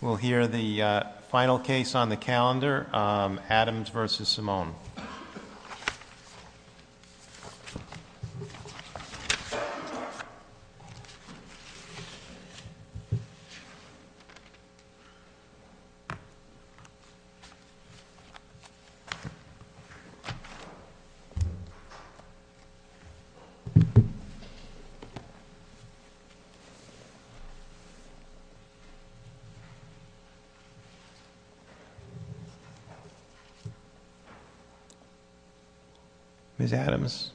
We'll hear the final case on the calendar, Adams v. Simone. Ms. Adams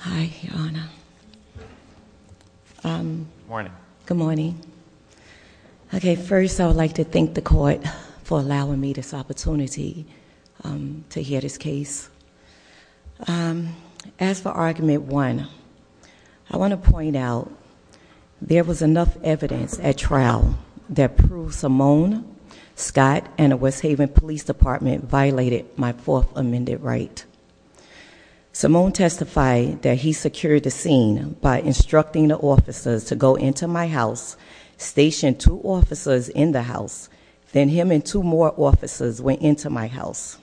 Hi, Your Honor Good morning Good morning Okay, first I would like to thank the court for allowing me this opportunity to hear this case. As for Argument 1, I want to point out there was enough evidence at trial that proved Simone, Scott, and the West Haven Police Department violated my fourth amended right. Simone testified that he secured the scene by instructing the officers to go into my house, stationed two officers in the house, then him and two more officers went into my house.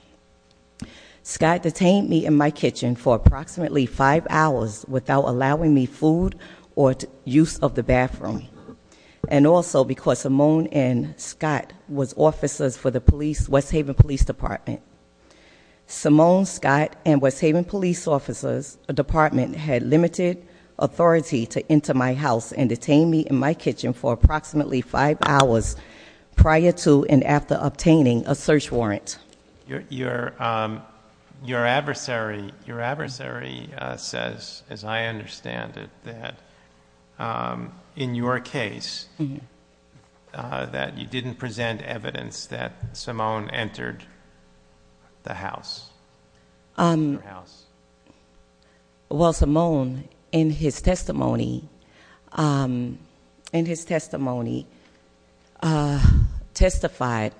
Scott detained me in my kitchen for approximately five hours without allowing me food or use of the bathroom and also because Simone and Scott were officers for the West Haven Police Department. Simone, Scott, and West Haven Police Department had limited authority to enter my house and detain me in my kitchen for approximately five hours prior to and after obtaining a search warrant. Your adversary says, as I understand it, that in your case that you didn't present evidence that Simone entered the house. Well, Simone in his testimony testified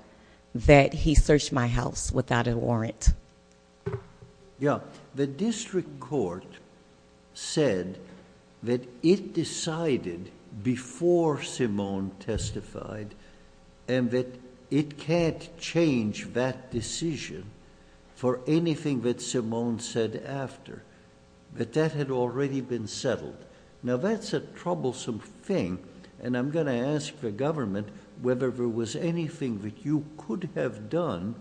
that he searched my house without a warrant. Yeah, the district court said that it decided before Simone testified and that it can't change that decision for anything that Simone said after, that that had already been settled. Now, that's a troublesome thing and I'm going to ask the government whether there was anything that you could have done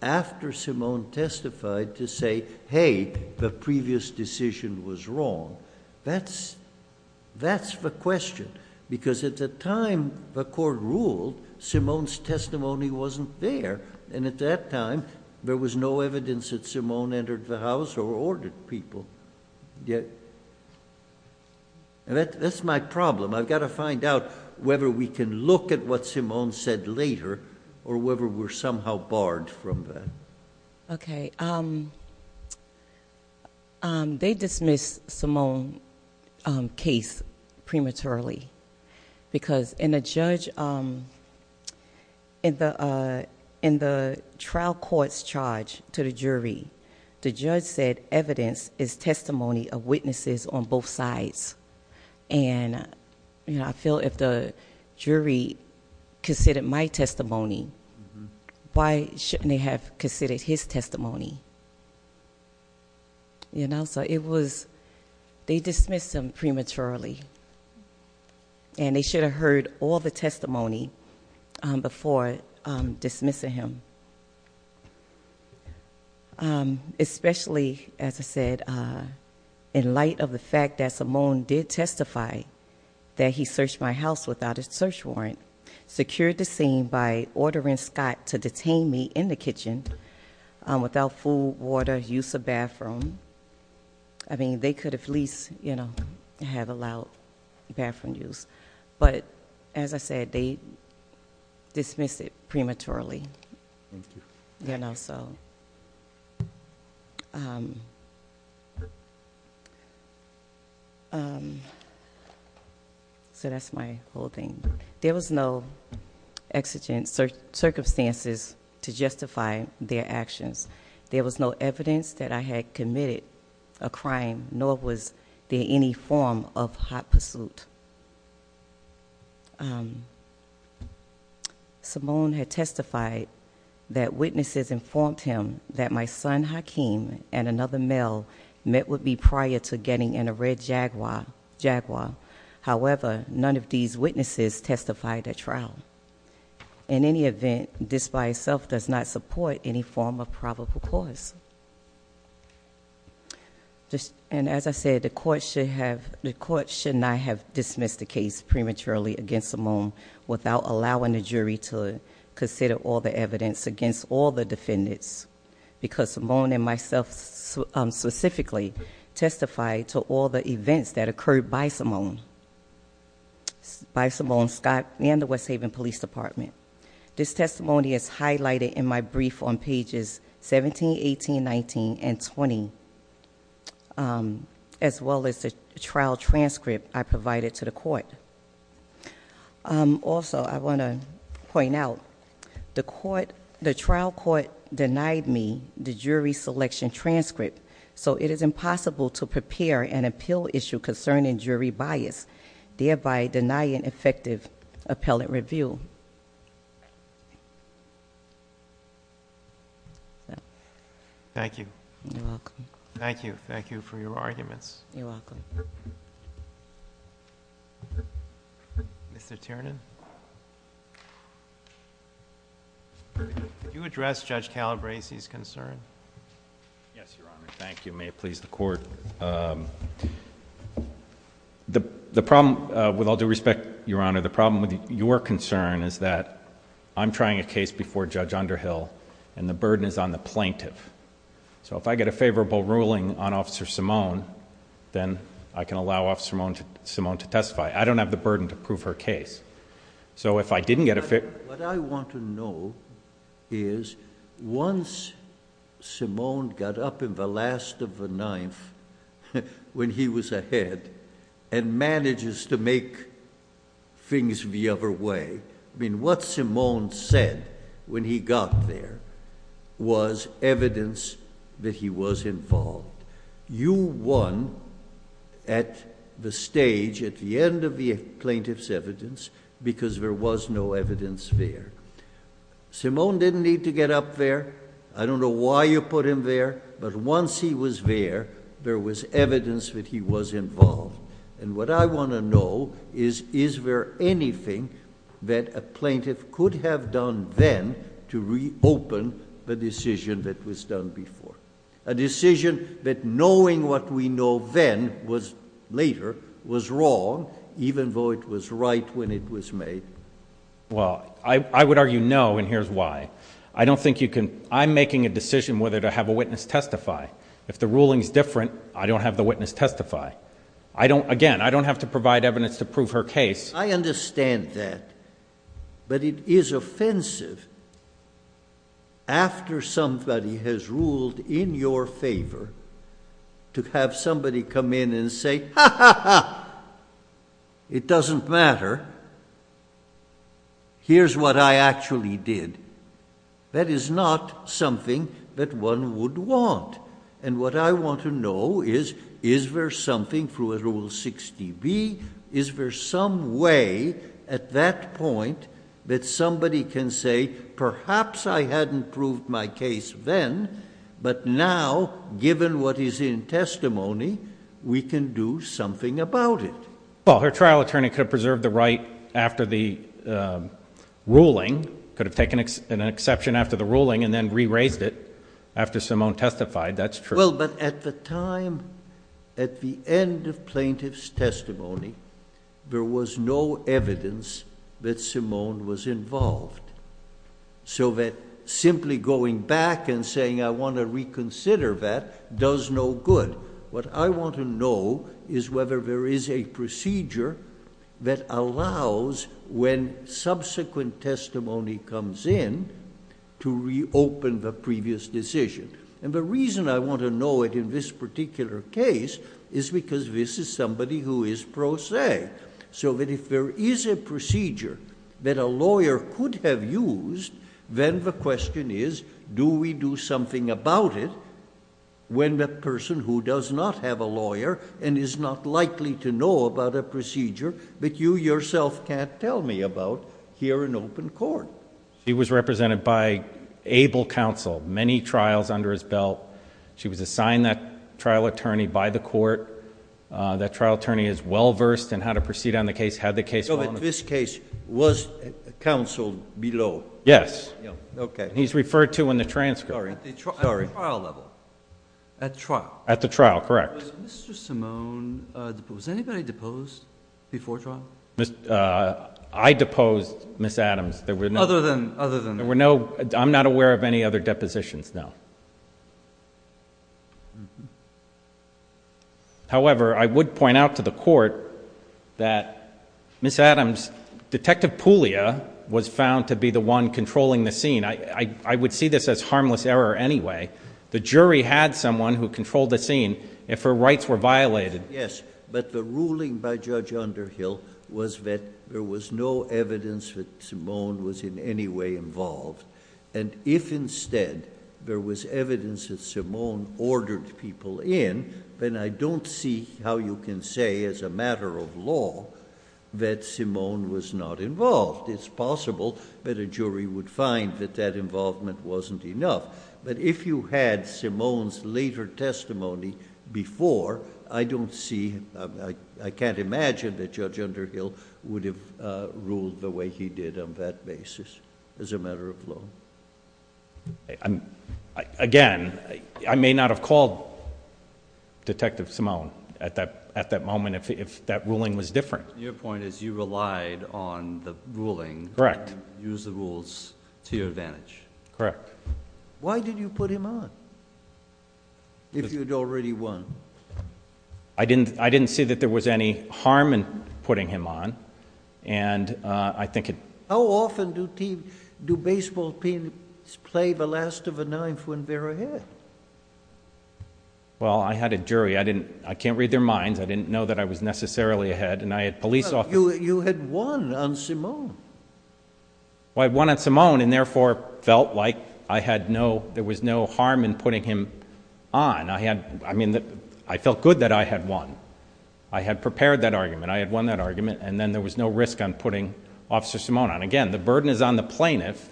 after Simone testified to say, hey, the previous decision was wrong. That's the question because at the time the court ruled, Simone's testimony wasn't there and at that time there was no evidence that Simone entered the house or ordered people. That's my problem. I've got to find out whether we can look at what Simone said later or whether we're somehow barred from that. Okay, they dismissed Simone's case prematurely because in the trial court's charge to the jury, the judge said evidence is testimony of witnesses on both sides. Why shouldn't they have considered his testimony? You know, so it was, they dismissed him prematurely and they should have heard all the testimony before dismissing him. Especially, as I said, in light of the fact that Simone did testify that he searched my house without a search warrant, secured the scene by ordering Scott to detain me in the kitchen without food, water, use of bathroom. I mean, they could have at least, you know, have allowed bathroom use, but as I said, they dismissed it There were no exigent circumstances to justify their actions. There was no evidence that I had committed a crime, nor was there any form of hot pursuit. Simone had testified that witnesses informed him that my son, Hakeem, and another male met with me prior to getting in a Red Jaguar. However, none of these witnesses testified at trial. In any event, this by itself does not support any form of probable cause. And as I said, the court should not have dismissed the case prematurely against Simone without allowing the jury to consider all the evidence against all the defendants. Because Simone and myself specifically testified to all the events that occurred by Simone, by Simone, Scott, and the West Haven Police Department. This testimony is highlighted in my brief on pages 17, 18, 19, and 20, as well as the trial transcript I provided to the court. Also, I want to point out, the trial court denied me the jury selection transcript. So, it is impossible to prepare an appeal issue concerning jury bias, thereby denying effective appellate review. Thank you. You're welcome. Thank you. Thank you for your arguments. You're welcome. Mr. Tiernan, did you address Judge Calabresi's concern? Yes, Your Honor. Thank you. May it please the court. The problem, with all due respect, Your Honor, the problem with your concern is that I'm trying a case before Judge Underhill, and the burden is on the plaintiff. So if I get a favorable ruling on Officer Simone, then I can allow Officer Simone to testify. I don't have the burden to prove her case. So if I didn't get a fair- What I want to know is, once Simone got up in the last of the ninth, when he was ahead, and manages to make things the other way. I mean, what Simone said when he got there was evidence that he was involved. You won at the stage, at the end of the plaintiff's evidence, because there was no evidence there. Simone didn't need to get up there. I don't know why you put him there, but once he was there, there was evidence that he was involved. And what I want to know is, is there anything that a plaintiff could have done then to reopen the decision that was done before? A decision that, knowing what we know then, was later, was wrong, even though it was right when it was made. Well, I would argue no, and here's why. I don't think you can- I'm making a decision whether to have a witness testify. If the ruling's different, I don't have the witness testify. I don't- again, I don't have to provide evidence to prove her case. I understand that, but it is offensive, after somebody has ruled in your favor, to have somebody come in and say, ha ha ha, it doesn't matter, here's what I actually did. That is not something that one would want, and what I want to know is, is there something, through a Rule 60B, is there some way at that point that somebody can say, perhaps I hadn't proved my case then, but now, given what is in testimony, we can do something about it? Well, her trial attorney could have preserved the right after the ruling, could have taken an exception after the ruling and then re-raised it after Simone testified, that's true. Well, but at the time, at the end of plaintiff's testimony, there was no evidence that Simone was involved. So that simply going back and saying, I want to reconsider that, does no good. What I want to know is whether there is a procedure that allows, when subsequent testimony comes in, to reopen the previous decision. And the reason I want to know it in this particular case is because this is somebody who is pro se. So that if there is a procedure that a lawyer could have used, then the question is, do we do something about it when the person who does not have a lawyer and is not likely to know about a procedure that you yourself can't tell me about here in open court? He was represented by able counsel, many trials under his belt. She was assigned that trial attorney by the court. That trial attorney is well versed in how to proceed on the case, how the case... So in this case, was counsel below? Yes. Okay. He's referred to in the transcript. Sorry. At the trial level? At trial? At the trial, correct. Was Mr. Simone, was anybody deposed before trial? I deposed Ms. Adams. Other than... There were no... I'm not aware of any other depositions, no. However, I would point out to the court that Ms. Adams, Detective Puglia was found to be the one controlling the scene. I would see this as harmless error anyway. The jury had someone who controlled the scene. If her rights were violated... Yes, but the ruling by Judge Underhill was that there was no evidence that Simone was in any way involved. If instead, there was evidence that Simone ordered people in, then I don't see how you can say as a matter of law that Simone was not involved. It's possible that a jury would find that that involvement wasn't enough. If you had Simone's later testimony before, I don't see... I can't imagine that Judge Underhill would have ruled the way he did on that basis as a matter of law. Again, I may not have called Detective Simone at that moment if that ruling was different. Your point is you relied on the ruling... Correct. Use the rules to your advantage. Correct. Why did you put him on, if you'd already won? I didn't see that there was any harm in putting him on, and I think... How often do baseball teams play the last of the ninth when they're ahead? Well, I had a jury. I can't read their minds. I didn't know that I was necessarily ahead, and I had police officers... You had won on Simone. Well, I had won on Simone and therefore felt like I had no... there was no harm in putting him on. I felt good that I had won. I had prepared that argument. I had won that argument, and then there was no risk on putting Officer Simone on. Again, the burden is on the plaintiff,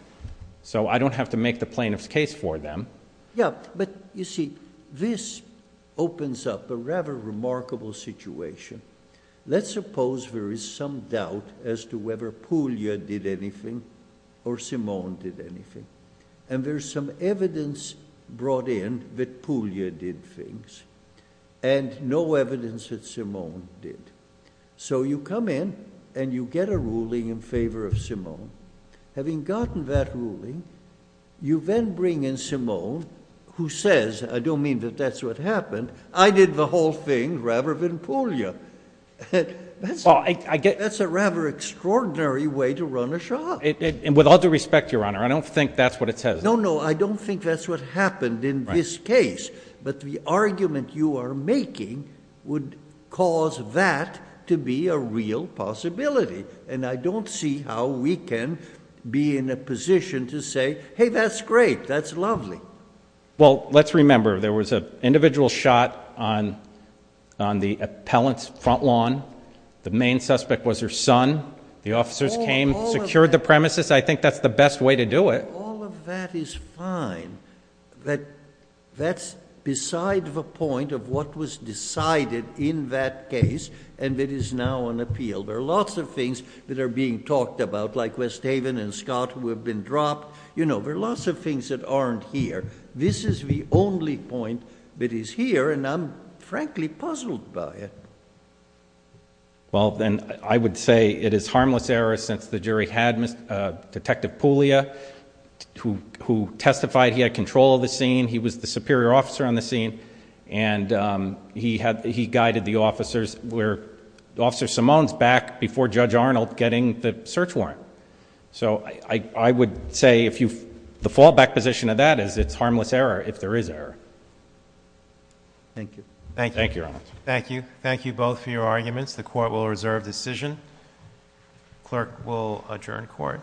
so I don't have to make the plaintiff's case for them. Yeah, but you see, this opens up a rather remarkable situation. Let's suppose there is some doubt as to whether Puglia did anything or Simone did anything, and there's some evidence brought in that Puglia did things and no evidence that Simone did. So you come in and you get a ruling in favor of Simone. Having gotten that ruling, you then bring in Simone, who says, I don't mean that that's what happened. I did the whole thing rather than Puglia. That's a rather extraordinary way to run a shop. With all due respect, Your Honor, I don't think that's what it says. No, no. I don't think that's what happened in this case, but the argument you are making would cause that to be a real possibility, and I don't see how we can be in a position to say, hey, that's great. That's lovely. Well, let's remember, there was an individual shot on the appellant's front lawn. The main suspect was her son. The officers came, secured the premises. I think that's the best way to do it. All of that is fine. That's beside the point of what was decided in that case, and it is now on appeal. There are lots of things that are being talked about, like West Haven and Scott, who have been dropped. There are lots of things that aren't here. This is the only point that is here, and I'm frankly puzzled by it. Well, then, I would say it is harmless error since the jury had Detective Puglia, who testified he had control of the scene. He was the superior officer on the scene, and he guided the officers. Officer Simone's back before Judge Arnold getting the search warrant. So, I would say the fallback position of that is it's harmless error if there is error. Thank you. Thank you. Thank you, Your Honor. Thank you. Thank you both for your arguments. The court will reserve decision. Clerk will adjourn court.